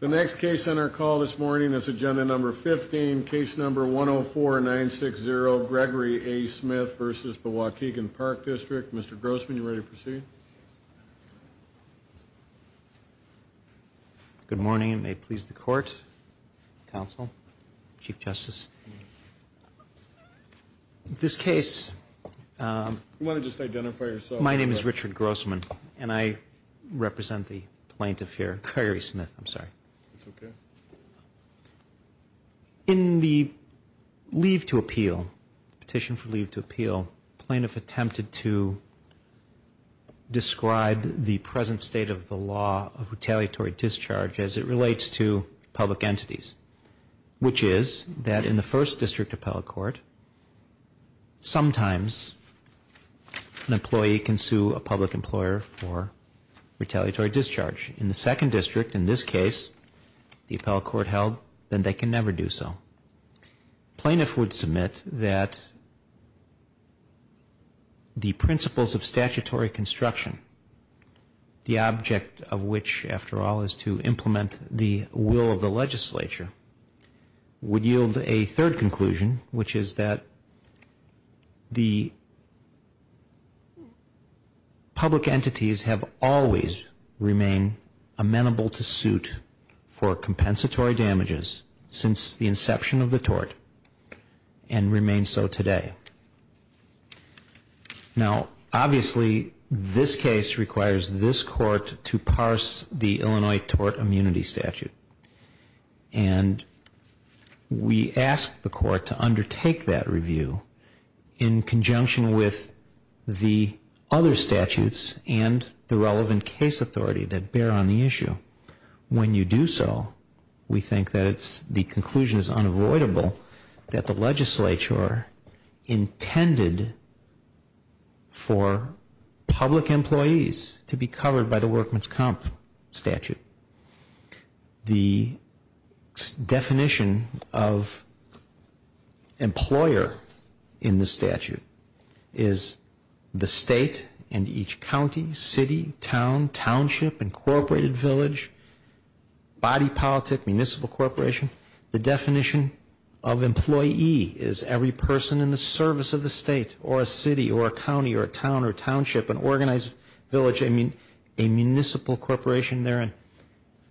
The next case on our call this morning is agenda number 15, case number 104-960, Gregory A. Smith v. Waukegan Park District. Mr. Grossman, are you ready to proceed? Good morning. It may please the Court, Counsel, Chief Justice. In this case, my name is Richard Grossman, and I represent the plaintiff here, Gregory Smith, I'm sorry. In the leave to appeal, petition for leave to appeal, plaintiff attempted to describe the present state of the law of retaliatory discharge as it relates to public entities, which is that in the first district appellate court, sometimes an employee can sue a public employer for retaliatory discharge. In the second district, in this case, the appellate court held that they can never do so. Plaintiff would submit that the principles of statutory construction, the object of which, after all, is to implement the will of the legislature, would yield a third conclusion, which is that the public entities have always remained amenable to suit for compensatory damages since the inception of the tort, and remain so today. Now, obviously, this case requires this Court to parse the Illinois tort immunity statute. And we ask the Court to undertake that review in conjunction with the other statutes and the relevant case authority that bear on the issue. When you do so, we think that the conclusion is unavoidable that the legislature intended for public employees to be covered by the workman's comp statute. The definition of employer in the statute is the state and each county, city, town, township, incorporated village, body politic, municipal corporation. The definition of employee is every person in the service of the state or a city or a county or a town or a township, an organized village. I mean a municipal corporation therein.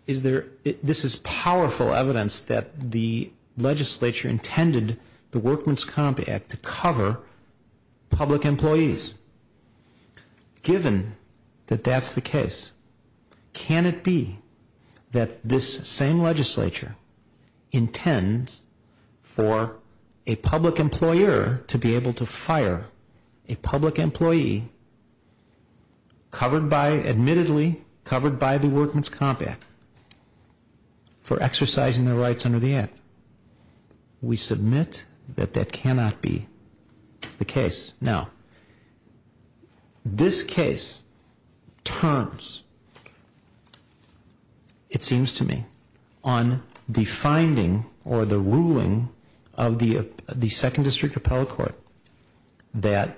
This is powerful evidence that the legislature intended the workman's comp act to cover public employees. Given that that's the case, can it be that this same legislature intends for a public employer to be able to fire a public employee admittedly covered by the workman's comp act for exercising their rights under the act? We submit that that cannot be the case. Now, this case turns, it seems to me, on the finding or the ruling of the Second District Appellate Court that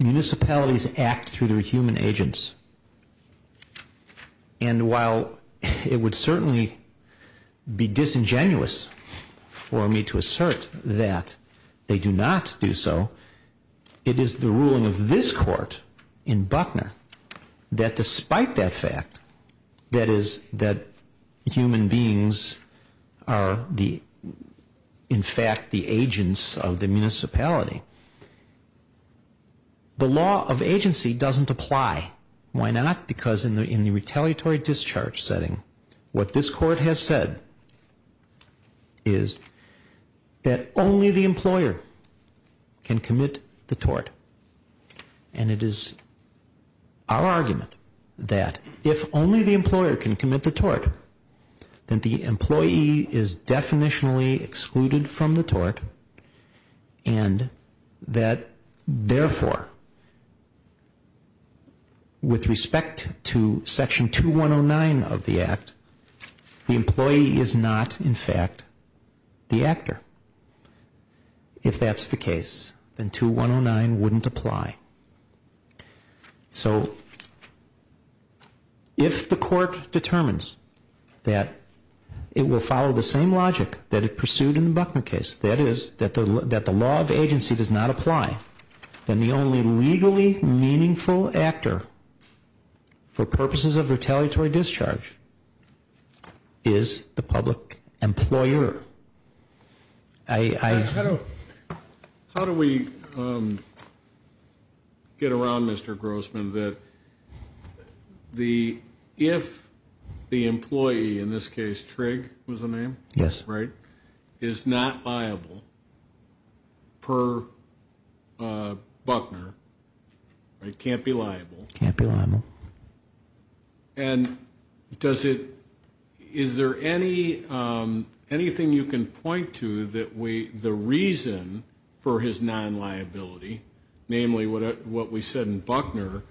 municipalities act through their human agents. And while it would certainly be disingenuous for me to assert that they do not do so, it is the ruling of this court in Buckner that despite that fact, that is, that human beings are in fact the agents of the municipality, the law of agency doesn't apply. Why not? Because in the retaliatory discharge setting, what this court has said is that only the employer can commit the tort. And it is our argument that if only the employer can commit the tort, then the employee is definitionally excluded from the tort and that therefore, with respect to Section 2109 of the act, the employee is not in fact the actor. If that's the case, then 2109 wouldn't apply. So if the court determines that it will follow the same logic that it pursued in the Buckner case, that is, that the law of agency does not apply, then the only legally meaningful actor for purposes of retaliatory discharge is the public employer. How do we get around, Mr. Grossman, that if the employee, in this case Trigg was the name, is not liable per Buckner, can't be liable. Can't be liable. And does it, is there anything you can point to that the reason for his non-liability, namely what we said in Buckner,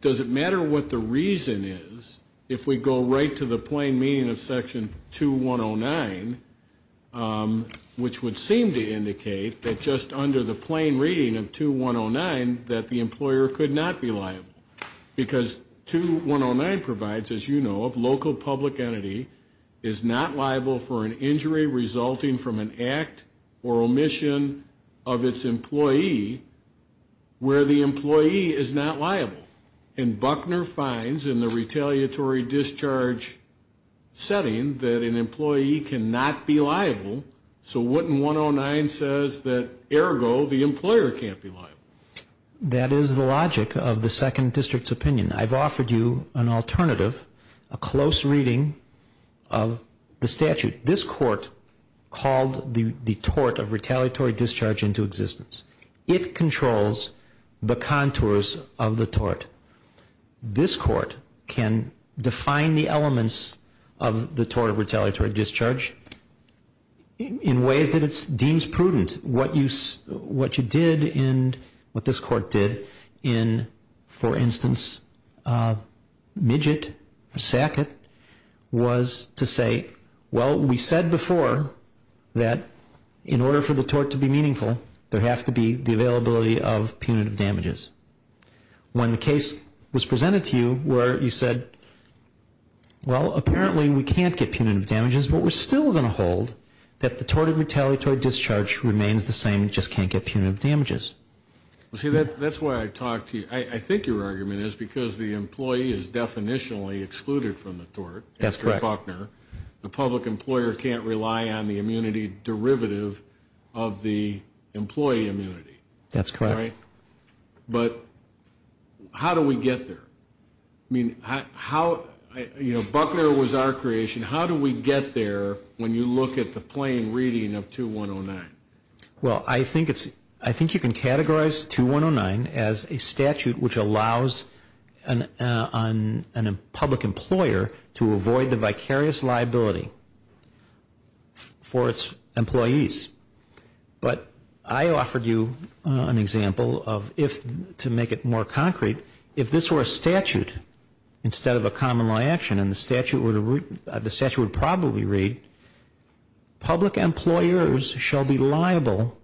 does it matter what the reason is if we go right to the plain meaning of Section 2109, which would seem to indicate that just under the plain reading of 2109, that the employer could not be liable. Because 2109 provides, as you know, a local public entity is not liable for an injury resulting from an act or omission of its employee where the employee is not liable. And Buckner finds in the retaliatory discharge setting that an employee cannot be liable, so wouldn't 109 says that, ergo, the employer can't be liable. That is the logic of the Second District's opinion. I've offered you an alternative, a close reading of the statute. This court called the tort of retaliatory discharge into existence. It controls the contours of the tort. This court can define the elements of the tort of retaliatory discharge in ways that it deems prudent. And what you did and what this court did in, for instance, Midget or Sackett was to say, well, we said before that in order for the tort to be meaningful, there has to be the availability of punitive damages. When the case was presented to you where you said, well, apparently we can't get punitive damages, but we're still going to hold that the tort of retaliatory discharge remains the same, just can't get punitive damages. See, that's why I talked to you. I think your argument is because the employee is definitionally excluded from the tort. That's correct. The public employer can't rely on the immunity derivative of the employee immunity. That's correct. But how do we get there? I mean, how, you know, Buckner was our creation. How do we get there when you look at the plain reading of 2109? Well, I think you can categorize 2109 as a statute which allows a public employer to avoid the vicarious liability for its employees. But I offered you an example of if, to make it more concrete, if this were a statute instead of a common law action, and the statute would probably read, public employers shall be liable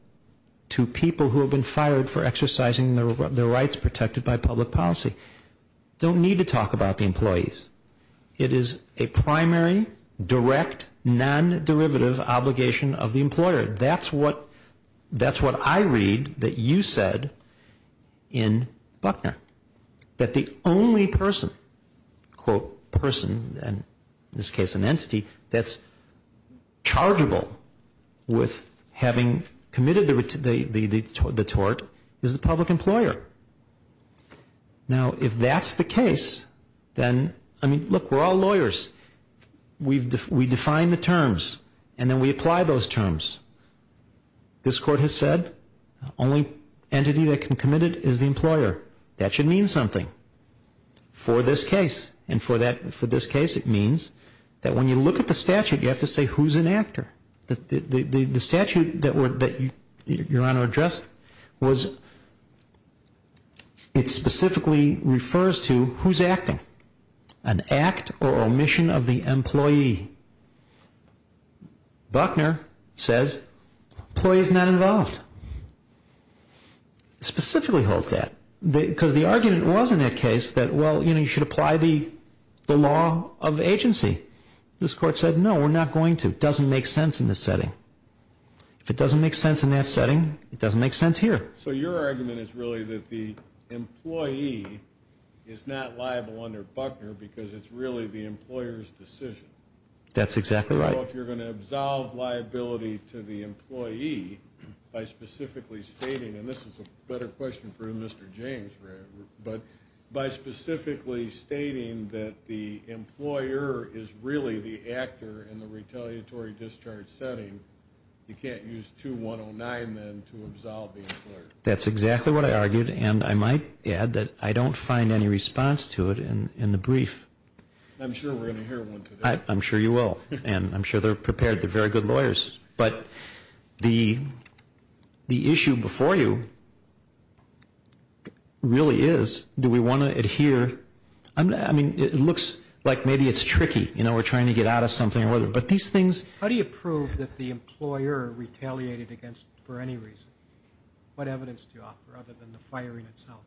to people who have been fired for exercising their rights protected by public policy. Don't need to talk about the employees. It is a primary, direct, non-derivative obligation of the employer. That's what I read that you said in Buckner, that the only person, quote, person, and in this case an entity, that's chargeable with having committed the tort is the public employer. Now, if that's the case, then, I mean, look, we're all lawyers. We define the terms, and then we apply those terms. This court has said the only entity that can commit it is the employer. That should mean something for this case. And for this case, it means that when you look at the statute, you have to say who's an actor. The statute that Your Honor addressed was, it specifically refers to who's acting. An act or omission of the employee. Buckner says employee's not involved. Specifically holds that. Because the argument was in that case that, well, you know, you should apply the law of agency. This court said, no, we're not going to. It doesn't make sense in this setting. If it doesn't make sense in that setting, it doesn't make sense here. So your argument is really that the employee is not liable under Buckner because it's really the employer's decision. That's exactly right. So if you're going to absolve liability to the employee by specifically stating, and this is a better question for Mr. James, but by specifically stating that the employer is really the actor in the retaliatory discharge setting, you can't use 2109 then to absolve the employer. That's exactly what I argued. And I might add that I don't find any response to it in the brief. I'm sure we're going to hear one today. I'm sure you will. And I'm sure they're prepared. They're very good lawyers. But the issue before you really is, do we want to adhere? I mean, it looks like maybe it's tricky. You know, we're trying to get out of something. But these things ---- How do you prove that the employer retaliated against it for any reason? What evidence do you offer other than the firing itself?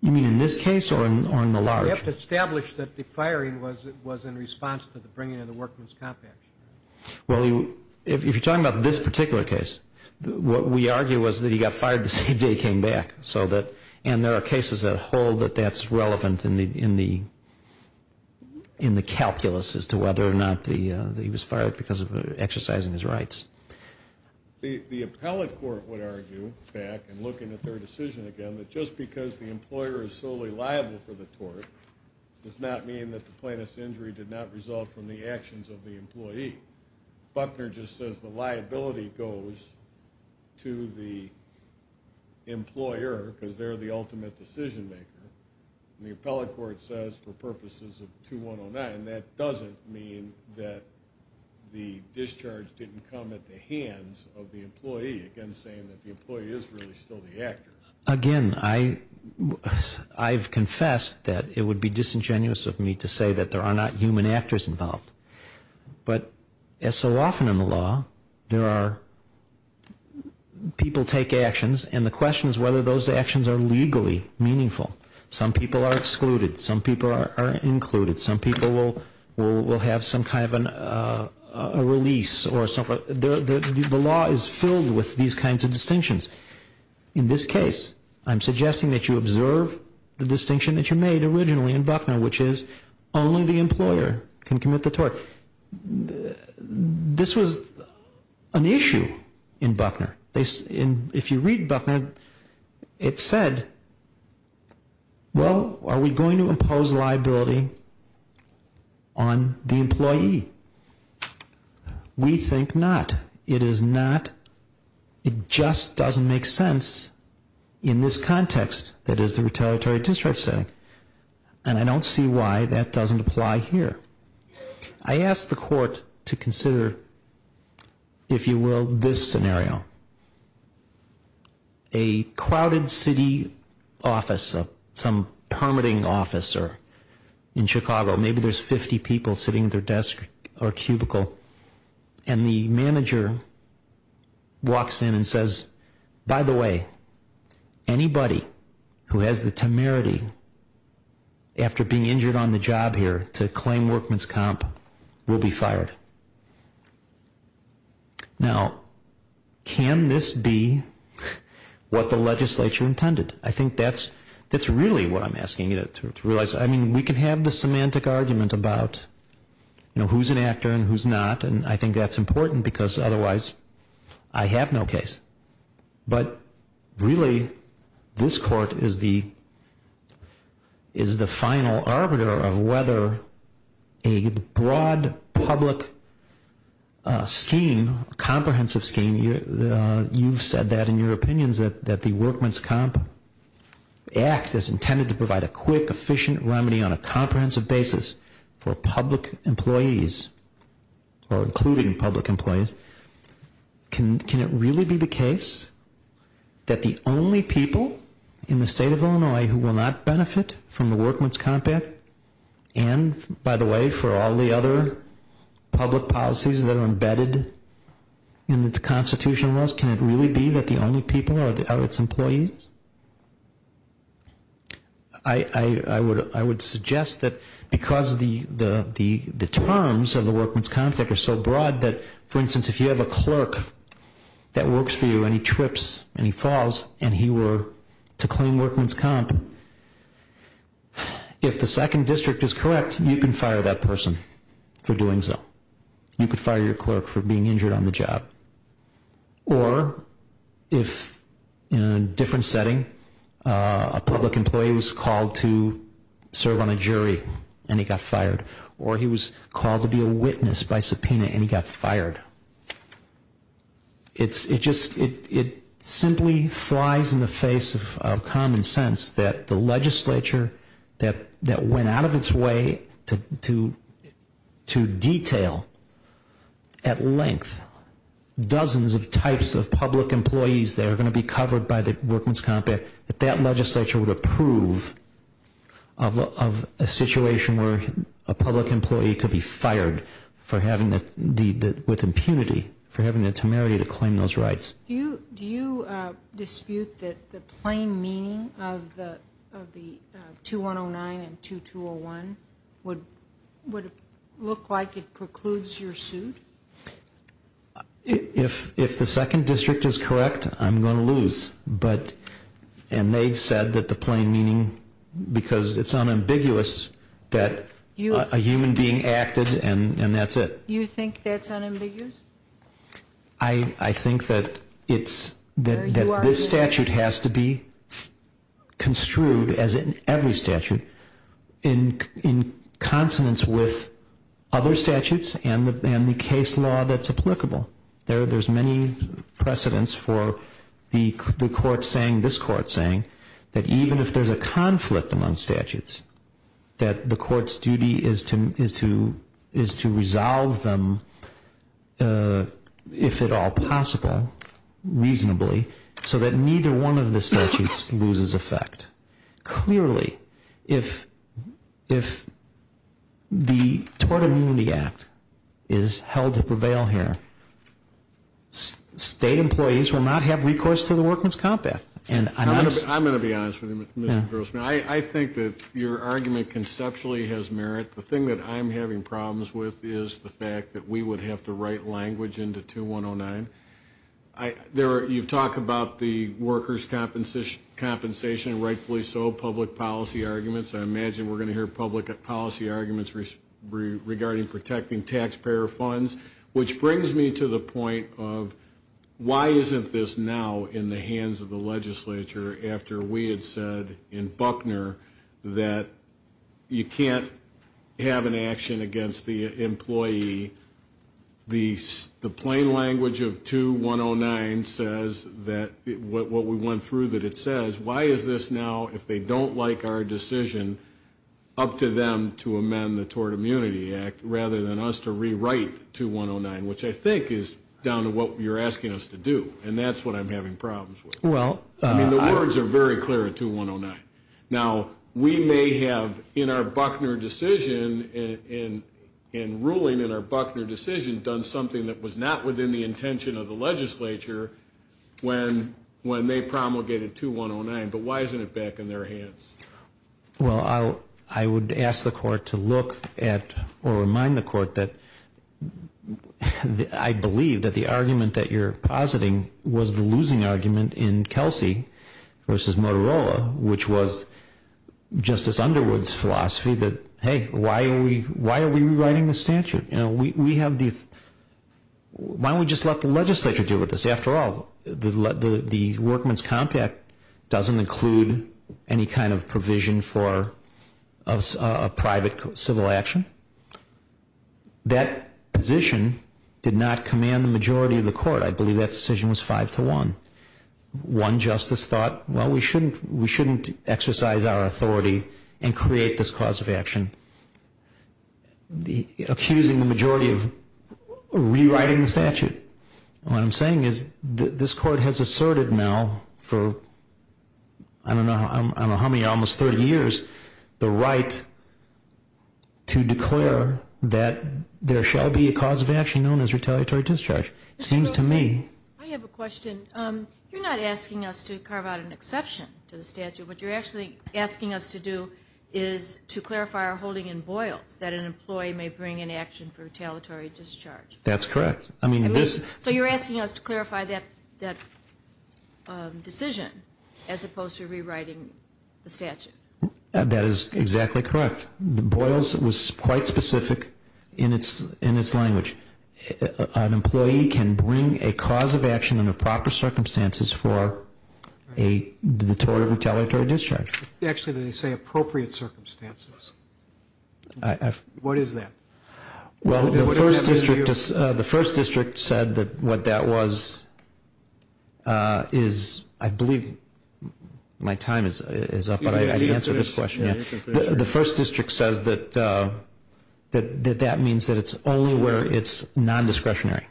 You mean in this case or in the large? We have to establish that the firing was in response to the bringing of the workman's comp action. Well, if you're talking about this particular case, what we argue was that he got fired the same day he came back. And there are cases that hold that that's relevant in the calculus as to whether or not he was fired because of exercising his rights. The appellate court would argue, back and looking at their decision again, that just because the employer is solely liable for the tort does not mean that the plaintiff's injury did not result from the actions of the employee. Buckner just says the liability goes to the employer because they're the ultimate decision maker. And the appellate court says for purposes of 2109, that doesn't mean that the discharge didn't come at the hands of the employee, again saying that the employee is really still the actor. Again, I've confessed that it would be disingenuous of me to say that there are not human actors involved. But as so often in the law, there are people take actions, and the question is whether those actions are legally meaningful. Some people are excluded. Some people are included. Some people will have some kind of a release. The law is filled with these kinds of distinctions. In this case, I'm suggesting that you observe the distinction that you made originally in Buckner, which is only the employer can commit the tort. This was an issue in Buckner. If you read Buckner, it said, well, are we going to impose liability on the employee? We think not. It is not. It just doesn't make sense in this context that is the retaliatory discharge setting. And I don't see why that doesn't apply here. I asked the court to consider, if you will, this scenario. A crowded city office, some permitting office in Chicago, maybe there's 50 people sitting at their desk or cubicle, and the manager walks in and says, by the way, anybody who has the temerity after being injured on the job here to claim workman's comp will be fired. Now, can this be what the legislature intended? I think that's really what I'm asking you to realize. I mean, we can have the semantic argument about who's an actor and who's not, and I think that's important because otherwise I have no case. But really, this court is the final arbiter of whether a broad public scheme, a comprehensive scheme, you've said that in your opinions, that the Workman's Comp Act is intended to provide a quick, efficient remedy on a comprehensive basis for public employees or including public employees. Can it really be the case that the only people in the state of Illinois who will not benefit from the Workman's Comp Act and, by the way, for all the other public policies that are embedded in the constitutional laws, can it really be that the only people are its employees? I would suggest that because the terms of the Workman's Comp Act are so broad that, for instance, if you have a clerk that works for you and he trips and he falls and he were to claim workman's comp, if the second district is correct, you can fire that person for doing so. You could fire your clerk for being injured on the job. Or if, in a different setting, a public employee was called to serve on a jury and he got fired, or he was called to be a witness by subpoena and he got fired. It simply flies in the face of common sense that the legislature that went out of its way to detail at length dozens of types of public employees that are going to be covered by the Workman's Comp Act, that that legislature would approve of a situation where a public employee could be fired with impunity for having the temerity to claim those rights. Do you dispute that the plain meaning of the 2109 and 2201 would look like it precludes your suit? If the second district is correct, I'm going to lose. And they've said that the plain meaning, because it's unambiguous that a human being acted and that's it. You think that's unambiguous? I think that this statute has to be construed, as in every statute, in consonance with other statutes and the case law that's applicable. There's many precedents for the court saying, this court saying, that even if there's a conflict among statutes, that the court's duty is to resolve them if at all possible, reasonably, so that neither one of the statutes loses effect. Clearly, if the Tort Immunity Act is held to prevail here, state employees will not have recourse to the Workman's Comp Act. I'm going to be honest with you, Mr. Grossman. I think that your argument conceptually has merit. In fact, the thing that I'm having problems with is the fact that we would have to write language into 2109. You've talked about the workers' compensation, rightfully so, public policy arguments. I imagine we're going to hear public policy arguments regarding protecting taxpayer funds, which brings me to the point of why isn't this now in the hands of the legislature after we had said in Buckner that you can't have an action against the employee. The plain language of 2109 says that what we went through that it says, why is this now, if they don't like our decision, up to them to amend the Tort Immunity Act, rather than us to rewrite 2109, which I think is down to what you're asking us to do. And that's what I'm having problems with. I mean, the words are very clear at 2109. Now, we may have, in our Buckner decision, in ruling in our Buckner decision, done something that was not within the intention of the legislature when they promulgated 2109, but why isn't it back in their hands? Well, I would ask the Court to look at or remind the Court that I believe that the argument that you're positing was the losing argument in Kelsey v. Motorola, which was Justice Underwood's philosophy that, hey, why are we rewriting the statute? Why don't we just let the legislature deal with this? After all, the workman's compact doesn't include any kind of provision for a private civil action. That position did not command the majority of the Court. I believe that decision was five to one. One justice thought, well, we shouldn't exercise our authority and create this cause of action, accusing the majority of rewriting the statute. What I'm saying is this Court has asserted now for, I don't know how many, almost 30 years, the right to declare that there shall be a cause of action known as retaliatory discharge. It seems to me. I have a question. You're not asking us to carve out an exception to the statute. What you're actually asking us to do is to clarify our holding in Boyles, that an employee may bring an action for retaliatory discharge. That's correct. So you're asking us to clarify that decision as opposed to rewriting the statute. That is exactly correct. Boyles was quite specific in its language. An employee can bring a cause of action under proper circumstances for a retaliatory discharge. Actually, they say appropriate circumstances. What is that? Well, the First District said that what that was is, I believe my time is up, but I can answer this question. The First District says that that means that it's only where it's non-discretionary.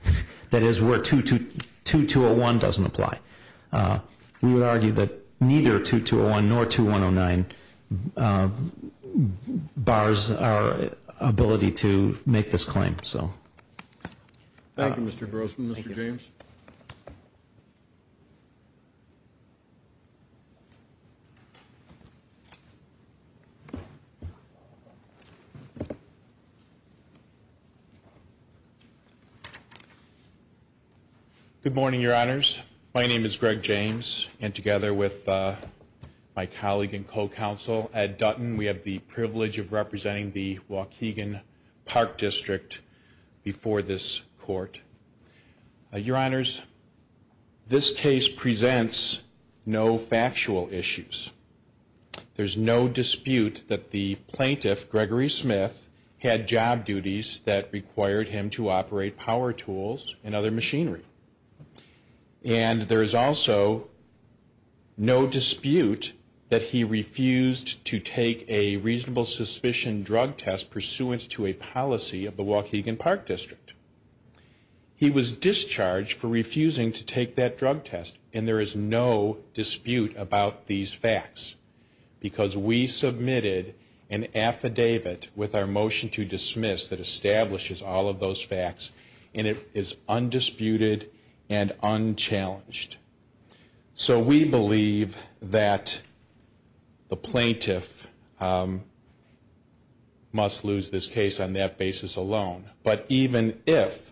That is where 2201 doesn't apply. We would argue that neither 2201 nor 2109 bars our ability to make this claim. Thank you, Mr. Grossman. Thank you, Mr. James. Good morning, Your Honors. My name is Greg James, and together with my colleague and co-counsel, Ed Dutton, we have the privilege of representing the Waukegan Park District before this court. Your Honors, this case presents no factual issues. There's no dispute that the plaintiff, Gregory Smith, had job duties that required him to operate power tools and other machinery. And there is also no dispute that he refused to take a reasonable suspicion drug test pursuant to a policy of the Waukegan Park District. He was discharged for refusing to take that drug test, and there is no dispute about these facts because we submitted an affidavit with our motion to dismiss that establishes all of those facts, and it is undisputed and unchallenged. So we believe that the plaintiff must lose this case on that basis alone. But even if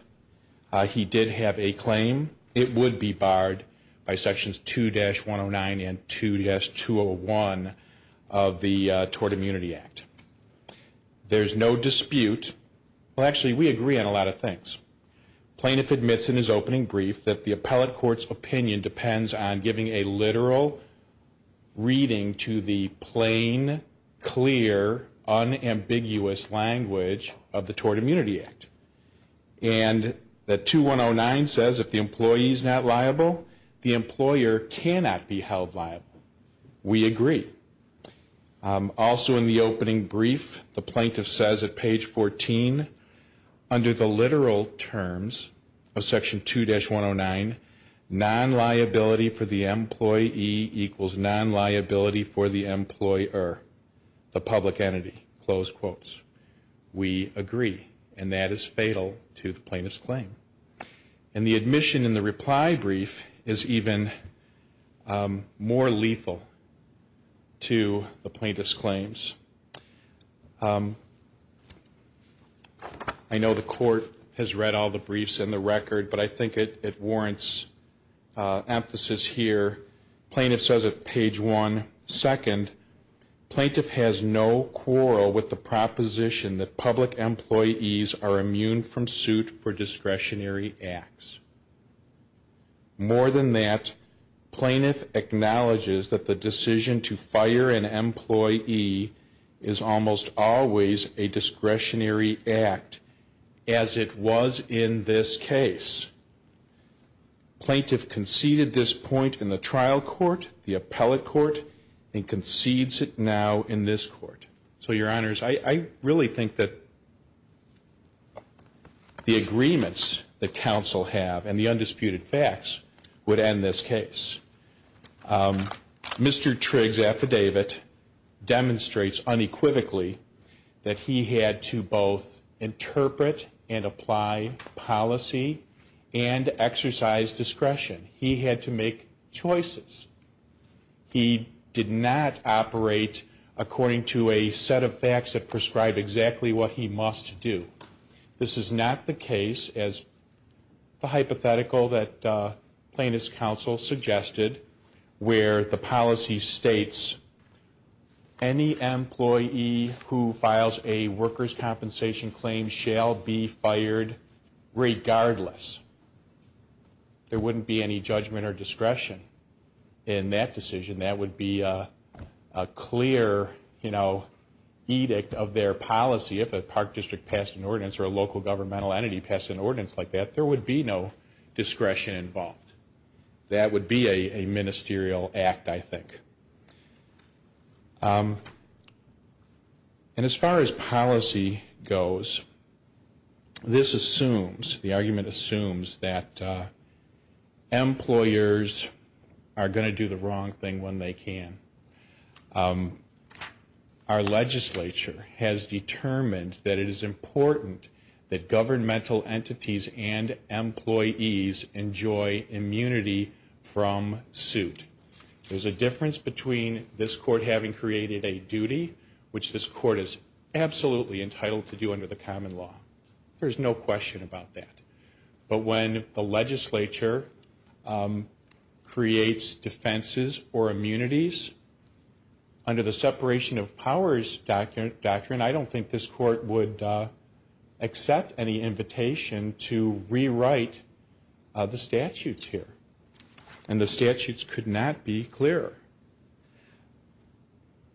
he did have a claim, it would be barred by sections 2-109 and 2-201 of the Tort Immunity Act. There's no dispute. Well, actually, we agree on a lot of things. Plaintiff admits in his opening brief that the appellate court's opinion depends on giving a literal reading to the plain, clear, unambiguous language of the Tort Immunity Act. And that 2-109 says if the employee is not liable, the employer cannot be held liable. We agree. Also in the opening brief, the plaintiff says at page 14, under the literal terms of section 2-109, non-liability for the employee equals non-liability for the employer, the public entity, close quotes. We agree, and that is fatal to the plaintiff's claim. And the admission in the reply brief is even more lethal to the plaintiff's claims. I know the court has read all the briefs in the record, but I think it warrants emphasis here. Plaintiff says at page 1, second, Plaintiff has no quarrel with the proposition that public employees are immune from suit for discretionary acts. More than that, plaintiff acknowledges that the decision to fire an employee is almost always a discretionary act, as it was in this case. Plaintiff conceded this point in the trial court, the appellate court, and concedes it now in this court. So, your honors, I really think that the agreements that counsel have and the undisputed facts would end this case. Mr. Trigg's affidavit demonstrates unequivocally that he had to both interpret and apply policy and exercise discretion. He had to make choices. He did not operate according to a set of facts that prescribed exactly what he must do. This is not the case, as the hypothetical that plaintiff's counsel suggested, where the policy states any employee who files a workers' compensation claim shall be fired regardless. There wouldn't be any judgment or discretion in that decision. That would be a clear edict of their policy. If a park district passed an ordinance or a local governmental entity passed an ordinance like that, there would be no discretion involved. That would be a ministerial act, I think. And as far as policy goes, this assumes, the argument assumes, that employers are going to do the wrong thing when they can. Our legislature has determined that it is important that governmental entities and employees enjoy immunity from suit. There's a difference between this court having created a duty, which this court is absolutely entitled to do under the common law. There's no question about that. But when the legislature creates defenses or immunities under the separation of powers doctrine, I don't think this court would accept any invitation to rewrite the statutes here. And the statutes could not be clearer.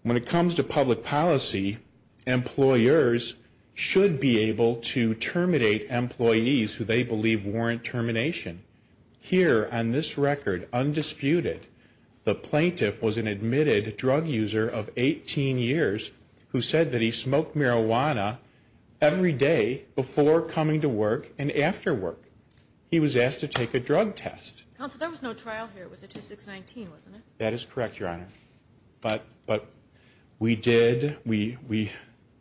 When it comes to public policy, employers should be able to terminate employees who they believe warrant termination. Here on this record, undisputed, the plaintiff was an admitted drug user of 18 years who said that he smoked marijuana every day before coming to work and after work. He was asked to take a drug test. Counsel, there was no trial here. It was a 2619, wasn't it? That is correct, Your Honor. But we did, we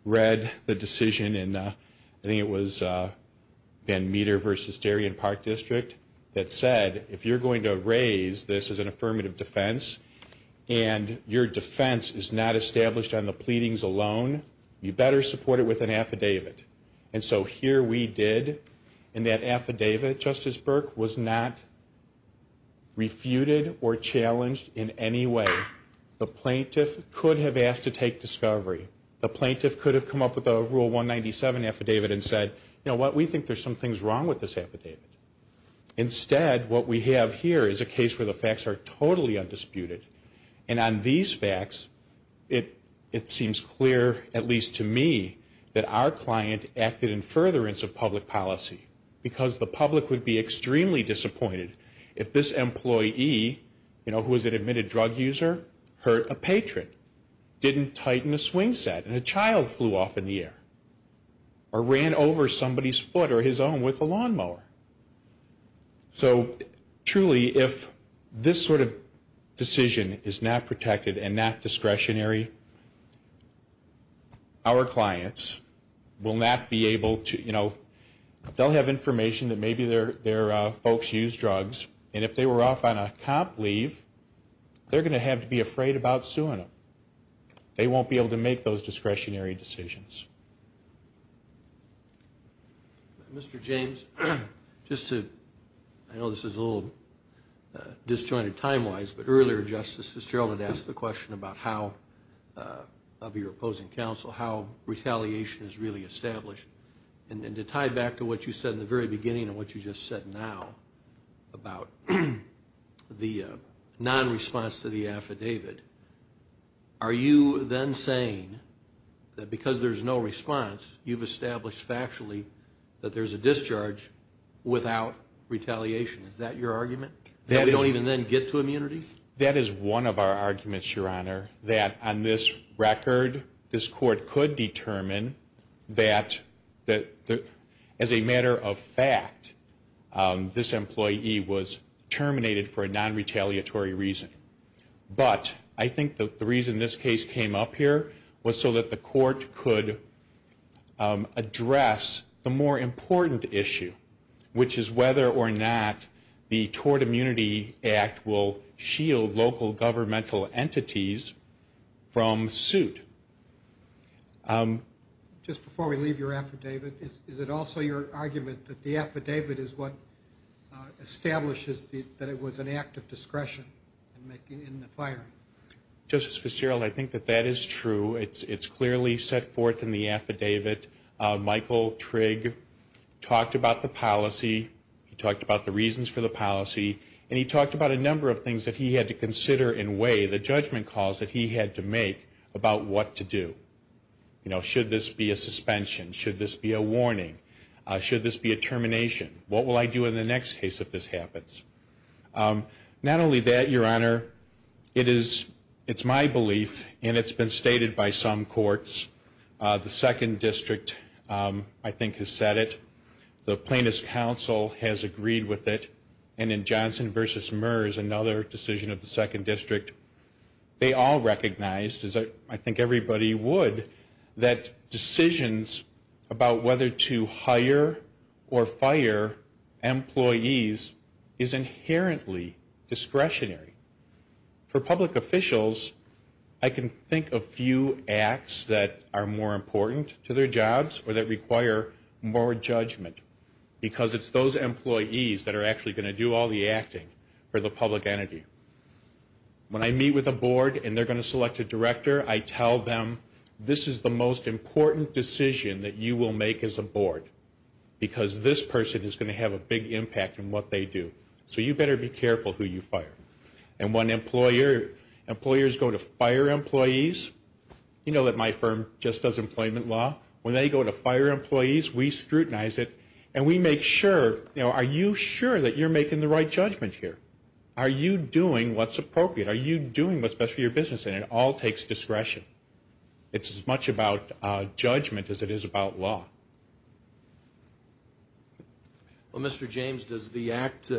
read the decision in, I think it was Van Meter v. Darien Park District, that said if you're going to raise this as an affirmative defense and your defense is not established on the pleadings alone, you better support it with an affidavit. And so here we did, and that affidavit, Justice Burke, was not refuted or challenged in any way. The plaintiff could have asked to take discovery. The plaintiff could have come up with a Rule 197 affidavit and said, you know what, we think there's some things wrong with this affidavit. Instead, what we have here is a case where the facts are totally undisputed. And on these facts, it seems clear, at least to me, that our client acted in furtherance of public policy. Because the public would be extremely disappointed if this employee, you know, who was an admitted drug user, hurt a patron, didn't tighten a swing set, and a child flew off in the air, or ran over somebody's foot or his own with a lawnmower. So truly, if this sort of decision is not protected and not discretionary, our clients will not be able to, you know, they'll have information that maybe their folks use drugs, and if they were off on a cop leave, they're going to have to be afraid about suing them. They won't be able to make those discretionary decisions. Mr. James, just to, I know this is a little disjointed time-wise, but earlier Justice Fitzgerald had asked the question about how, of your opposing counsel, how retaliation is really established. And to tie back to what you said in the very beginning and what you just said now about the non-response to the affidavit, are you then saying that because there's no response, you've established factually that there's a discharge without retaliation? Is that your argument? That we don't even then get to immunity? That is one of our arguments, Your Honor, that on this record, this Court could determine that as a matter of fact, this employee was terminated for a non-retaliatory reason. But I think the reason this case came up here was so that the Court could address the more important issue, which is whether or not the Tort Immunity Act will shield local governmental entities from suit. Just before we leave your affidavit, is it also your argument that the affidavit is what establishes that it was an act of discretion in the firing? Justice Fitzgerald, I think that that is true. It's clearly set forth in the affidavit. Michael Trigg talked about the policy. He talked about the reasons for the policy. And he talked about a number of things that he had to consider in way, the judgment calls that he had to make about what to do. You know, should this be a suspension? Should this be a warning? Should this be a termination? What will I do in the next case if this happens? Not only that, Your Honor, it is, it's my belief, and it's been stated by some courts, the Second District, I think, has said it. The Plaintiffs' Council has agreed with it. And in Johnson v. Murs, another decision of the Second District, they all recognized, as I think everybody would, that decisions about whether to hire or fire employees is inherently discretionary. For public officials, I can think of few acts that are more important to their jobs or that require more judgment because it's those employees that are actually going to do all the acting for the public entity. When I meet with a board and they're going to select a director, I tell them this is the most important decision that you will make as a board because this person is going to have a big impact in what they do. So you better be careful who you fire. And when employers go to fire employees, you know that my firm just does employment law. When they go to fire employees, we scrutinize it, and we make sure, you know, are you sure that you're making the right judgment here? Are you doing what's appropriate? Are you doing what's best for your business? And it all takes discretion. It's as much about judgment as it is about law. Well, Mr. James, does the act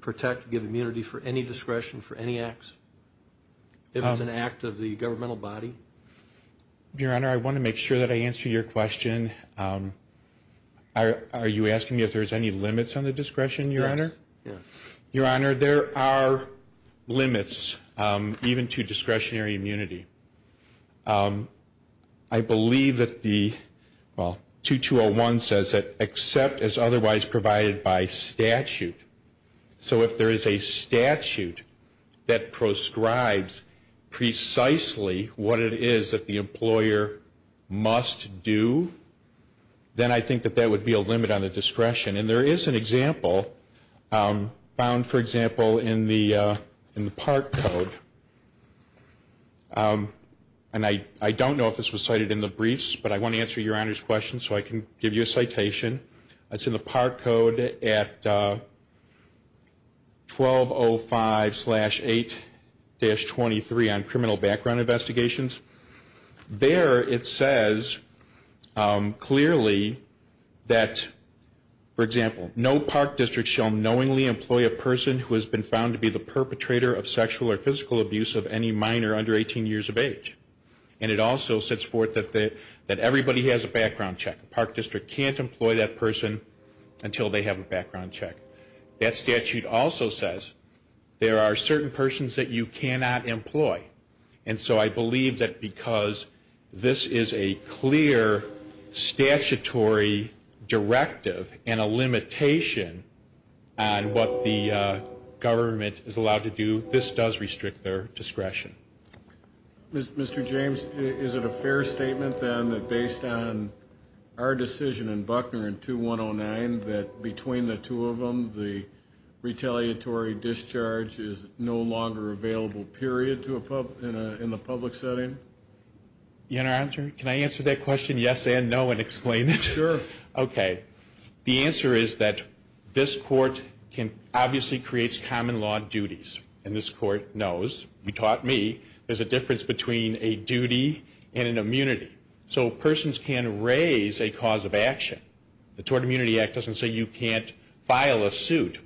protect, give immunity for any discretion for any acts, if it's an act of the governmental body? Your Honor, I want to make sure that I answer your question. Are you asking me if there's any limits on the discretion, Your Honor? Yes. Your Honor, there are limits even to discretionary immunity. I believe that the 2201 says that except as otherwise provided by statute. So if there is a statute that proscribes precisely what it is that the employer must do, then I think that that would be a limit on the discretion. And there is an example found, for example, in the part code. And I don't know if this was cited in the briefs, but I want to answer Your Honor's question so I can give you a citation. It's in the part code at 1205-8-23 on criminal background investigations. There it says clearly that, for example, no park district shall knowingly employ a person who has been found to be the perpetrator of sexual or physical abuse of any minor under 18 years of age. And it also sets forth that everybody has a background check. A park district can't employ that person until they have a background check. That statute also says there are certain persons that you cannot employ. And so I believe that because this is a clear statutory directive and a limitation on what the government is allowed to do, this does restrict their discretion. Mr. James, is it a fair statement then that based on our decision in Buckner in 2109 that between the two of them the retaliatory discharge is no longer available, period, in the public setting? Your Honor, can I answer that question yes and no and explain it? Sure. Okay. The answer is that this Court obviously creates common law duties. And this Court knows, you taught me, there's a difference between a duty and an immunity. So persons can raise a cause of action. The Tort Immunity Act doesn't say you can't file a suit.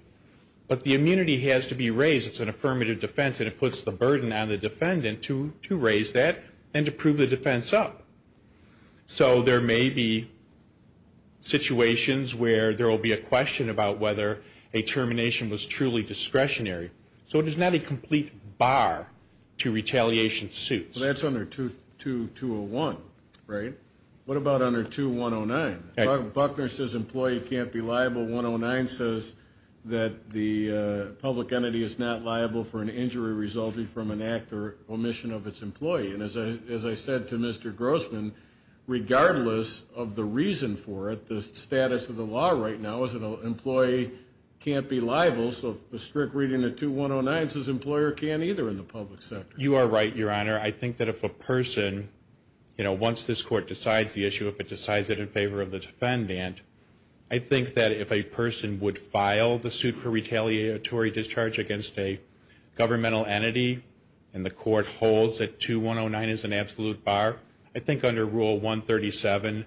But the immunity has to be raised. It's an affirmative defense, and it puts the burden on the defendant to raise that and to prove the defense up. So there may be situations where there will be a question about whether a termination was truly discretionary. So it is not a complete bar to retaliation suits. Well, that's under 2201, right? What about under 2109? Buckner says employee can't be liable. 109 says that the public entity is not liable for an injury resulting from an act or omission of its employee. And as I said to Mr. Grossman, regardless of the reason for it, the status of the law right now is an employee can't be liable. So a strict reading of 2109 says employer can't either in the public sector. You are right, Your Honor. Your Honor, I think that if a person, you know, once this court decides the issue, if it decides it in favor of the defendant, I think that if a person would file the suit for retaliatory discharge against a governmental entity and the court holds that 2109 is an absolute bar, I think under Rule 137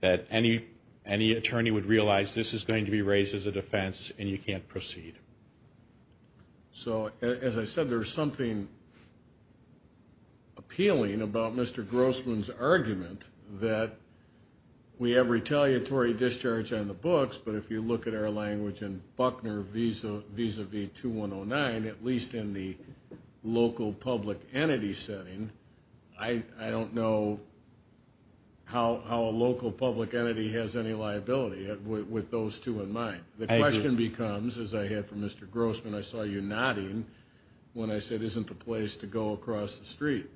that any attorney would realize this is going to be raised as a defense and you can't proceed. So as I said, there's something appealing about Mr. Grossman's argument that we have retaliatory discharge on the books, but if you look at our language in Buckner vis-a-vis 2109, at least in the local public entity setting, I don't know how a local public entity has any liability with those two in mind. The question becomes, as I heard from Mr. Grossman, I saw you nodding when I said isn't the place to go across the street.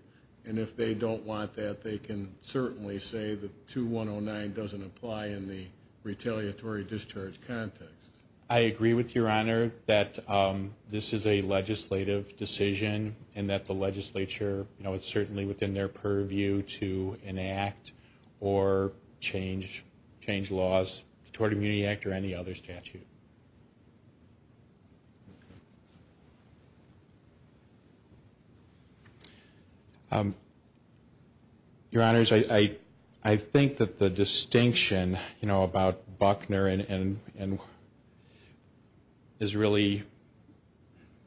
And if they don't want that, they can certainly say that 2109 doesn't apply in the retaliatory discharge context. I agree with Your Honor that this is a legislative decision and that the legislature, you know, it's certainly within their purview to enact or change laws toward Immunity Act or any other statute. Your Honors, I think that the distinction, you know, about Buckner is really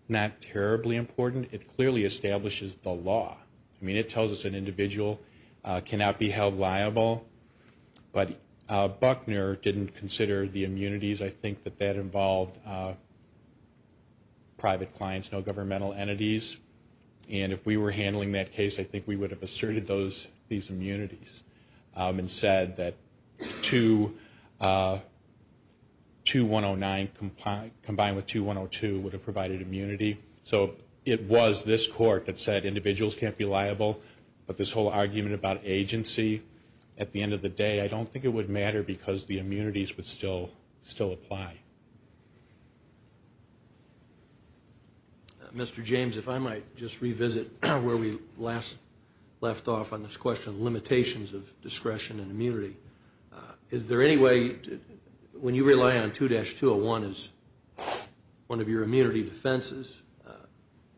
not terribly important. It clearly establishes the law. I mean, it tells us an individual cannot be held liable, but Buckner didn't consider the immunities. I think that that involved private clients, no governmental entities. And if we were handling that case, I think we would have asserted these immunities and said that 2109 combined with 2102 would have provided immunity. So it was this court that said individuals can't be liable, but this whole argument about agency at the end of the day, I don't think it would matter because the immunities would still apply. Mr. James, if I might just revisit where we last left off on this question, limitations of discretion and immunity. Is there any way, when you rely on 2-201 as one of your immunity defenses,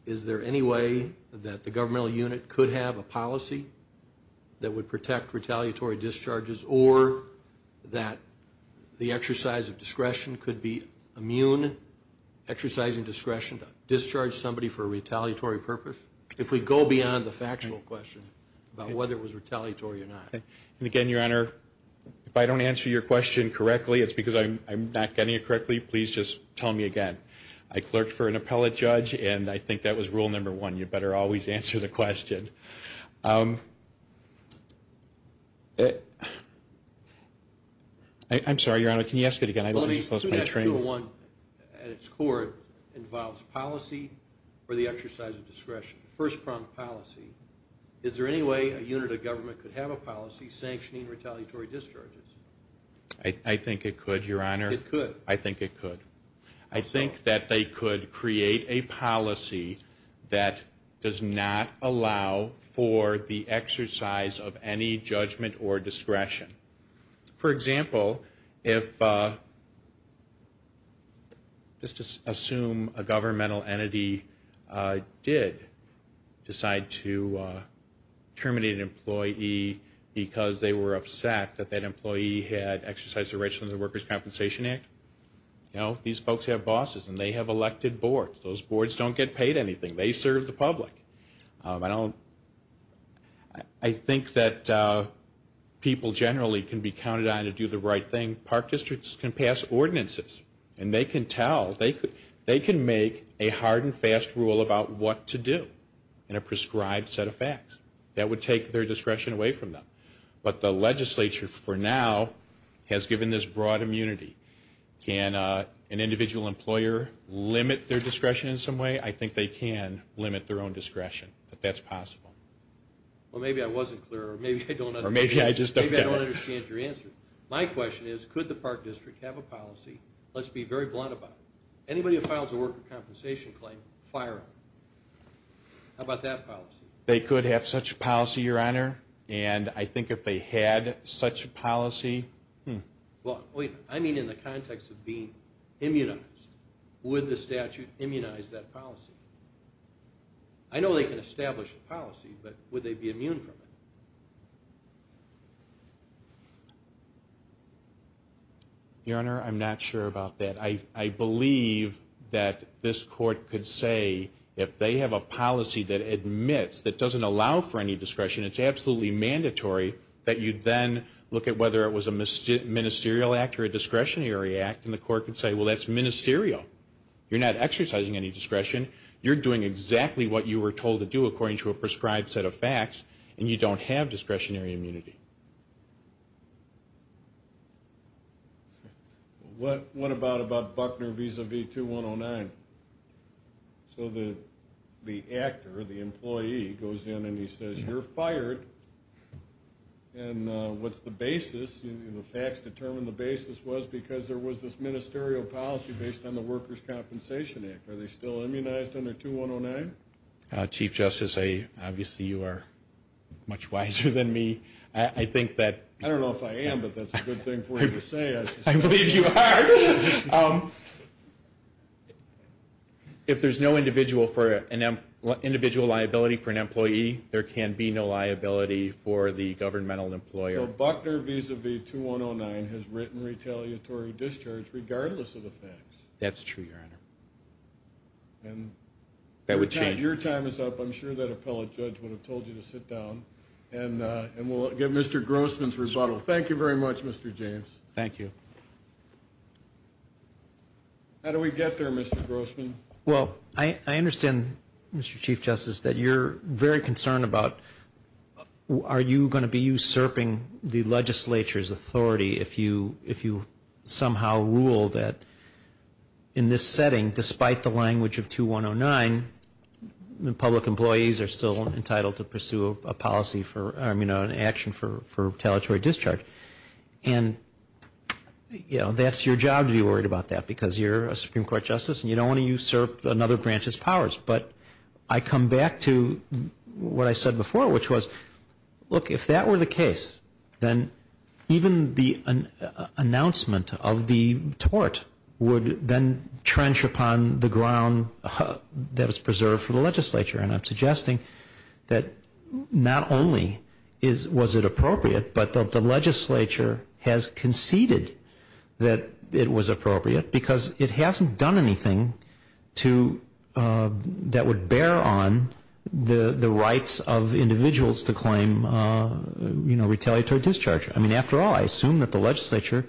is there any way that the governmental unit could have a policy that would protect retaliatory discharges or that the exercise of discretion could be immune, exercising discretion to discharge somebody for a retaliatory purpose? If we go beyond the factual question about whether it was retaliatory or not. And again, Your Honor, if I don't answer your question correctly, it's because I'm not getting it correctly, please just tell me again. I clerked for an appellate judge, and I think that was rule number one, you better always answer the question. I'm sorry, Your Honor, can you ask it again? 2-201 at its core involves policy or the exercise of discretion, first-pronged policy. Is there any way a unit of government could have a policy sanctioning retaliatory discharges? I think it could, Your Honor. It could? I think it could. I think that they could create a policy that does not allow for the exercise of any judgment or discretion. For example, if, just to assume a governmental entity did decide to terminate an employee because they were upset that that employee had exercised their rights under the Workers' Compensation Act, you know, these folks have bosses, and they have elected boards. Those boards don't get paid anything. They serve the public. I think that people generally can be counted on to do the right thing. Park districts can pass ordinances, and they can tell. They can make a hard and fast rule about what to do in a prescribed set of facts. That would take their discretion away from them. But the legislature, for now, has given this broad immunity. Can an individual employer limit their discretion in some way? I think they can limit their own discretion, but that's possible. Well, maybe I wasn't clear, or maybe I don't understand. Or maybe I just don't get it. Maybe I don't understand your answer. My question is, could the park district have a policy? Let's be very blunt about it. Anybody who files a worker compensation claim, fire them. How about that policy? They could have such a policy, Your Honor. And I think if they had such a policy, hmm. Well, I mean in the context of being immunized. Would the statute immunize that policy? I know they can establish a policy, but would they be immune from it? Your Honor, I'm not sure about that. I believe that this Court could say if they have a policy that admits, that doesn't allow for any discretion, it's absolutely mandatory that you then look at whether it was a ministerial act or a discretionary act, and the Court could say, well, that's ministerial. You're not exercising any discretion. You're doing exactly what you were told to do according to a prescribed set of facts, and you don't have discretionary immunity. What about Buckner v. 2109? So the actor, the employee, goes in and he says, you're fired. And what's the basis? The facts determine the basis was because there was this ministerial policy based on the Workers' Compensation Act. Are they still immunized under 2109? Chief Justice, obviously you are much wiser than me. I don't know if I am, but that's a good thing for you to say. I believe you are. If there's no individual liability for an employee, there can be no liability for the governmental employer. So Buckner v. 2109 has written retaliatory discharge regardless of the facts. That's true, Your Honor. Your time is up. I'm sure that appellate judge would have told you to sit down, and we'll give Mr. Grossman's rebuttal. Thank you very much, Mr. James. Thank you. How do we get there, Mr. Grossman? Well, I understand, Mr. Chief Justice, that you're very concerned about are you going to be usurping the legislature's authority if you somehow rule that in this setting, despite the language of 2109, the public employees are still entitled to pursue an action for retaliatory discharge. And that's your job to be worried about that because you're a Supreme Court justice and you don't want to usurp another branch's powers. But I come back to what I said before, which was, look, if that were the case, then even the announcement of the tort would then trench upon the ground that is preserved for the legislature. And I'm suggesting that not only was it appropriate, but the legislature has conceded that it was appropriate because it hasn't done anything that would bear on the rights of individuals to claim retaliatory discharge. I mean, after all, I assume that the legislature,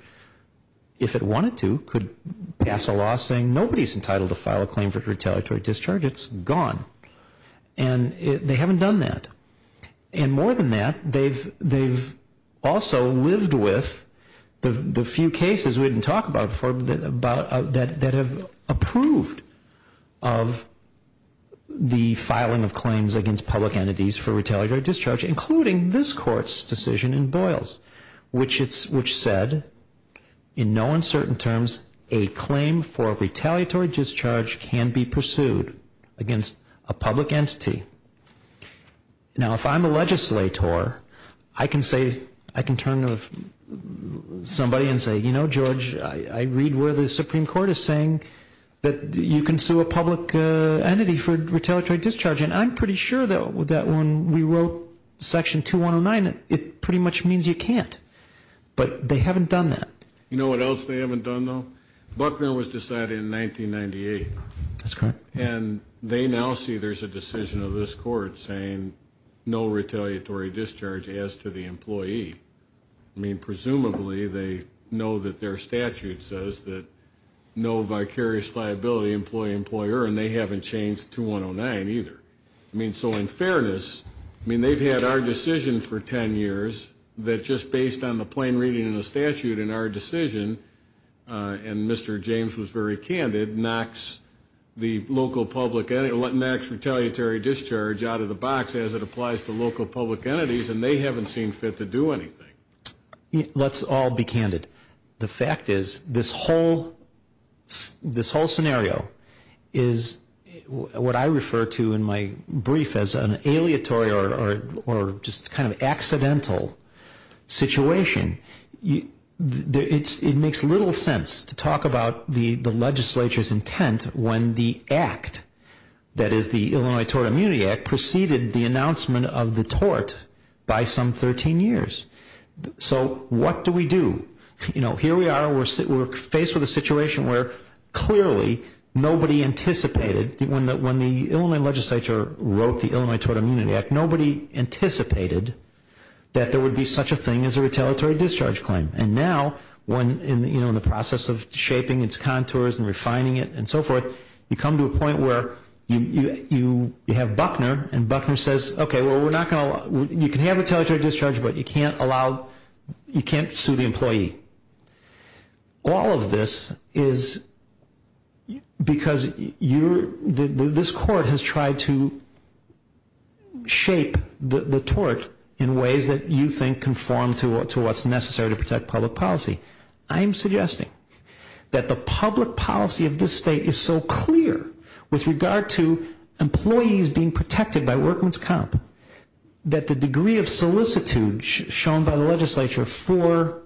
if it wanted to, could pass a law saying nobody's entitled to file a claim for retaliatory discharge. It's gone. And they haven't done that. And more than that, they've also lived with the few cases we didn't talk about before that have approved of the filing of claims against public entities for retaliatory discharge, including this Court's decision in Boyles, which said, in no uncertain terms, a claim for retaliatory discharge can be pursued against a public entity. Now, if I'm a legislator, I can turn to somebody and say, you know, George, I read where the Supreme Court is saying that you can sue a public entity for retaliatory discharge. And I'm pretty sure, though, that when we wrote Section 2109, it pretty much means you can't. But they haven't done that. You know what else they haven't done, though? Buckner was decided in 1998. That's correct. And they now see there's a decision of this Court saying no retaliatory discharge as to the employee. I mean, presumably they know that their statute says that no vicarious liability employee, employer, and they haven't changed 2109 either. I mean, so in fairness, I mean, they've had our decision for 10 years that just based on the plain reading in the statute in our decision, and Mr. James was very candid, knocks the local public entity, knocks retaliatory discharge out of the box as it applies to local public entities, and they haven't seen fit to do anything. Let's all be candid. The fact is this whole scenario is what I refer to in my brief as an aleatory or just kind of accidental situation. It makes little sense to talk about the legislature's intent when the act, that is, the Illinois Tort Immunity Act preceded the announcement of the tort by some 13 years. So what do we do? You know, here we are, we're faced with a situation where clearly nobody anticipated, when the Illinois legislature wrote the Illinois Tort Immunity Act, nobody anticipated that there would be such a thing as a retaliatory discharge claim. And now, you know, in the process of shaping its contours and refining it and so forth, you come to a point where you have Buckner, and Buckner says, okay, well, we're not going to allow, you can have retaliatory discharge, but you can't allow, you can't sue the employee. All of this is because you're, this court has tried to shape the tort in ways that you think conform to what's necessary to protect public policy. I'm suggesting that the public policy of this state is so clear with regard to employees being protected by workman's comp, that the degree of solicitude shown by the legislature for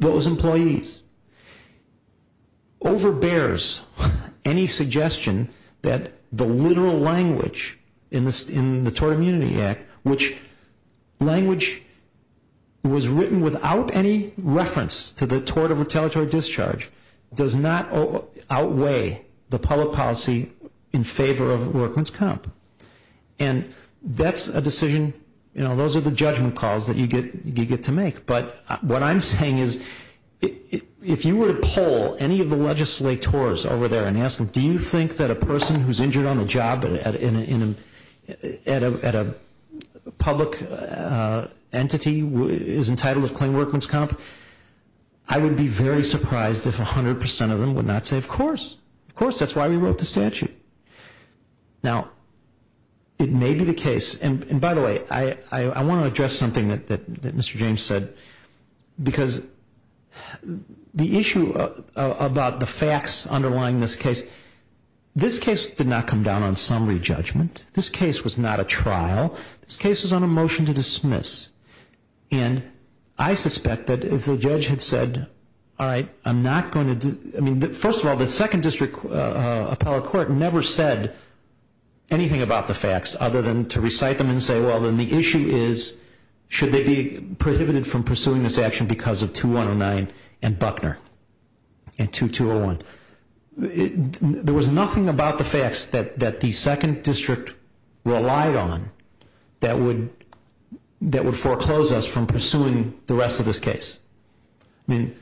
those employees overbears any suggestion that the literal language in the Tort Immunity Act, which language was written without any reference to the tort of retaliatory discharge, does not outweigh the public policy in favor of workman's comp. And that's a decision, you know, those are the judgment calls that you get to make. But what I'm saying is, if you were to poll any of the legislators over there and ask them, do you think that a person who's injured on the job at a public entity is entitled to claim workman's comp, I would be very surprised if 100% of them would not say, of course, of course, that's why we wrote the statute. Now, it may be the case, and by the way, I want to address something that Mr. James said, because the issue about the facts underlying this case, this case did not come down on summary judgment. This case was not a trial. This case was on a motion to dismiss. And I suspect that if the judge had said, all right, I'm not going to, I mean, first of all, the Second District Appellate Court never said anything about the facts other than to recite them and say, well, then the issue is, should they be prohibited from pursuing this action because of 2109 and Buckner and 2201. There was nothing about the facts that the Second District relied on that would foreclose us from pursuing the rest of this case. I mean,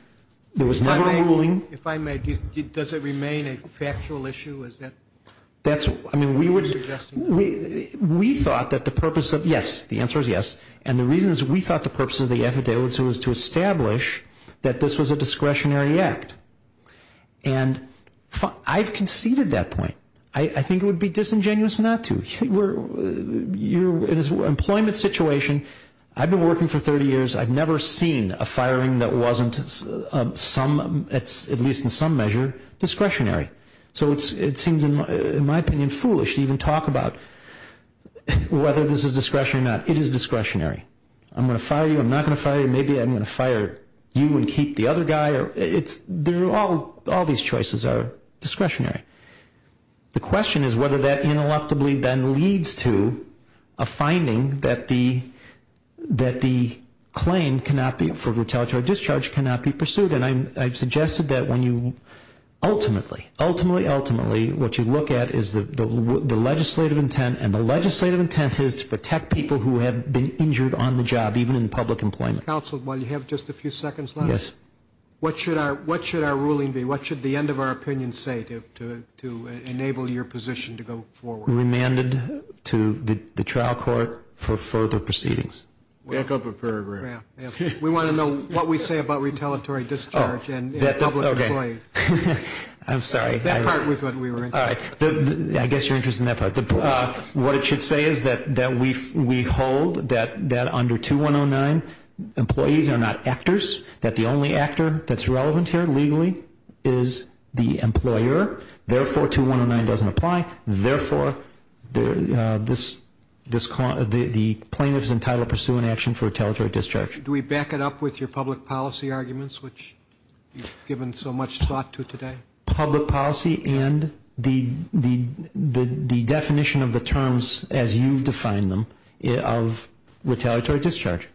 there was no ruling. If I may, does it remain a factual issue? I mean, we thought that the purpose of, yes, the answer is yes, and the reason is we thought the purpose of the affidavit was to establish that this was a discretionary act. And I've conceded that point. I think it would be disingenuous not to. In an employment situation, I've been working for 30 years. I've never seen a firing that wasn't, at least in some measure, discretionary. So it seems, in my opinion, foolish to even talk about whether this is discretionary or not. It is discretionary. I'm going to fire you. I'm not going to fire you. Maybe I'm going to fire you and keep the other guy. All these choices are discretionary. The question is whether that ineluctably then leads to a finding that the claim for retaliatory discharge cannot be pursued. And I've suggested that when you ultimately, ultimately, ultimately, what you look at is the legislative intent, and the legislative intent is to protect people who have been injured on the job, even in public employment. Counsel, while you have just a few seconds left, what should our ruling be? What should the end of our opinion say to enable your position to go forward? Remanded to the trial court for further proceedings. Back up a paragraph. We want to know what we say about retaliatory discharge and public employees. I'm sorry. That part was what we were interested in. I guess you're interested in that part. What it should say is that we hold that under 2109, employees are not actors, that the only actor that's relevant here legally is the employer. Therefore, 2109 doesn't apply. Therefore, the plaintiff is entitled to pursue an action for retaliatory discharge. Do we back it up with your public policy arguments, which you've given so much thought to today? Public policy and the definition of the terms as you've defined them of retaliatory discharge.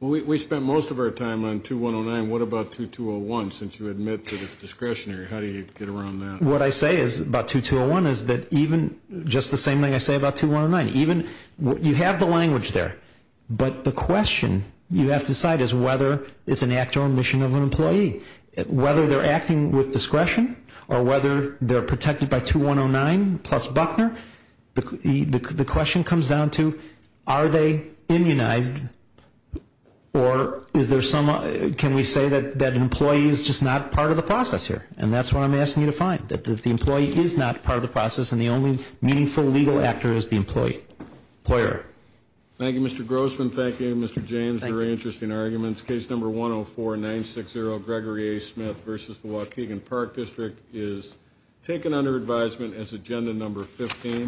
Well, we spent most of our time on 2109. What about 2201, since you admit that it's discretionary? How do you get around that? What I say about 2201 is that even just the same thing I say about 2109, even you have the language there, but the question you have to decide is whether it's an act or omission of an employee. Whether they're acting with discretion or whether they're protected by 2109 plus Buckner, the question comes down to are they immunized or is there some, can we say that an employee is just not part of the process here? And that's what I'm asking you to find, that the employee is not part of the process and the only meaningful legal actor is the employer. Thank you, Mr. Grossman. Thank you, Mr. James. Very interesting arguments. Case number 104-960, Gregory A. Smith v. the Waukegan Park District, is taken under advisement as agenda number 15.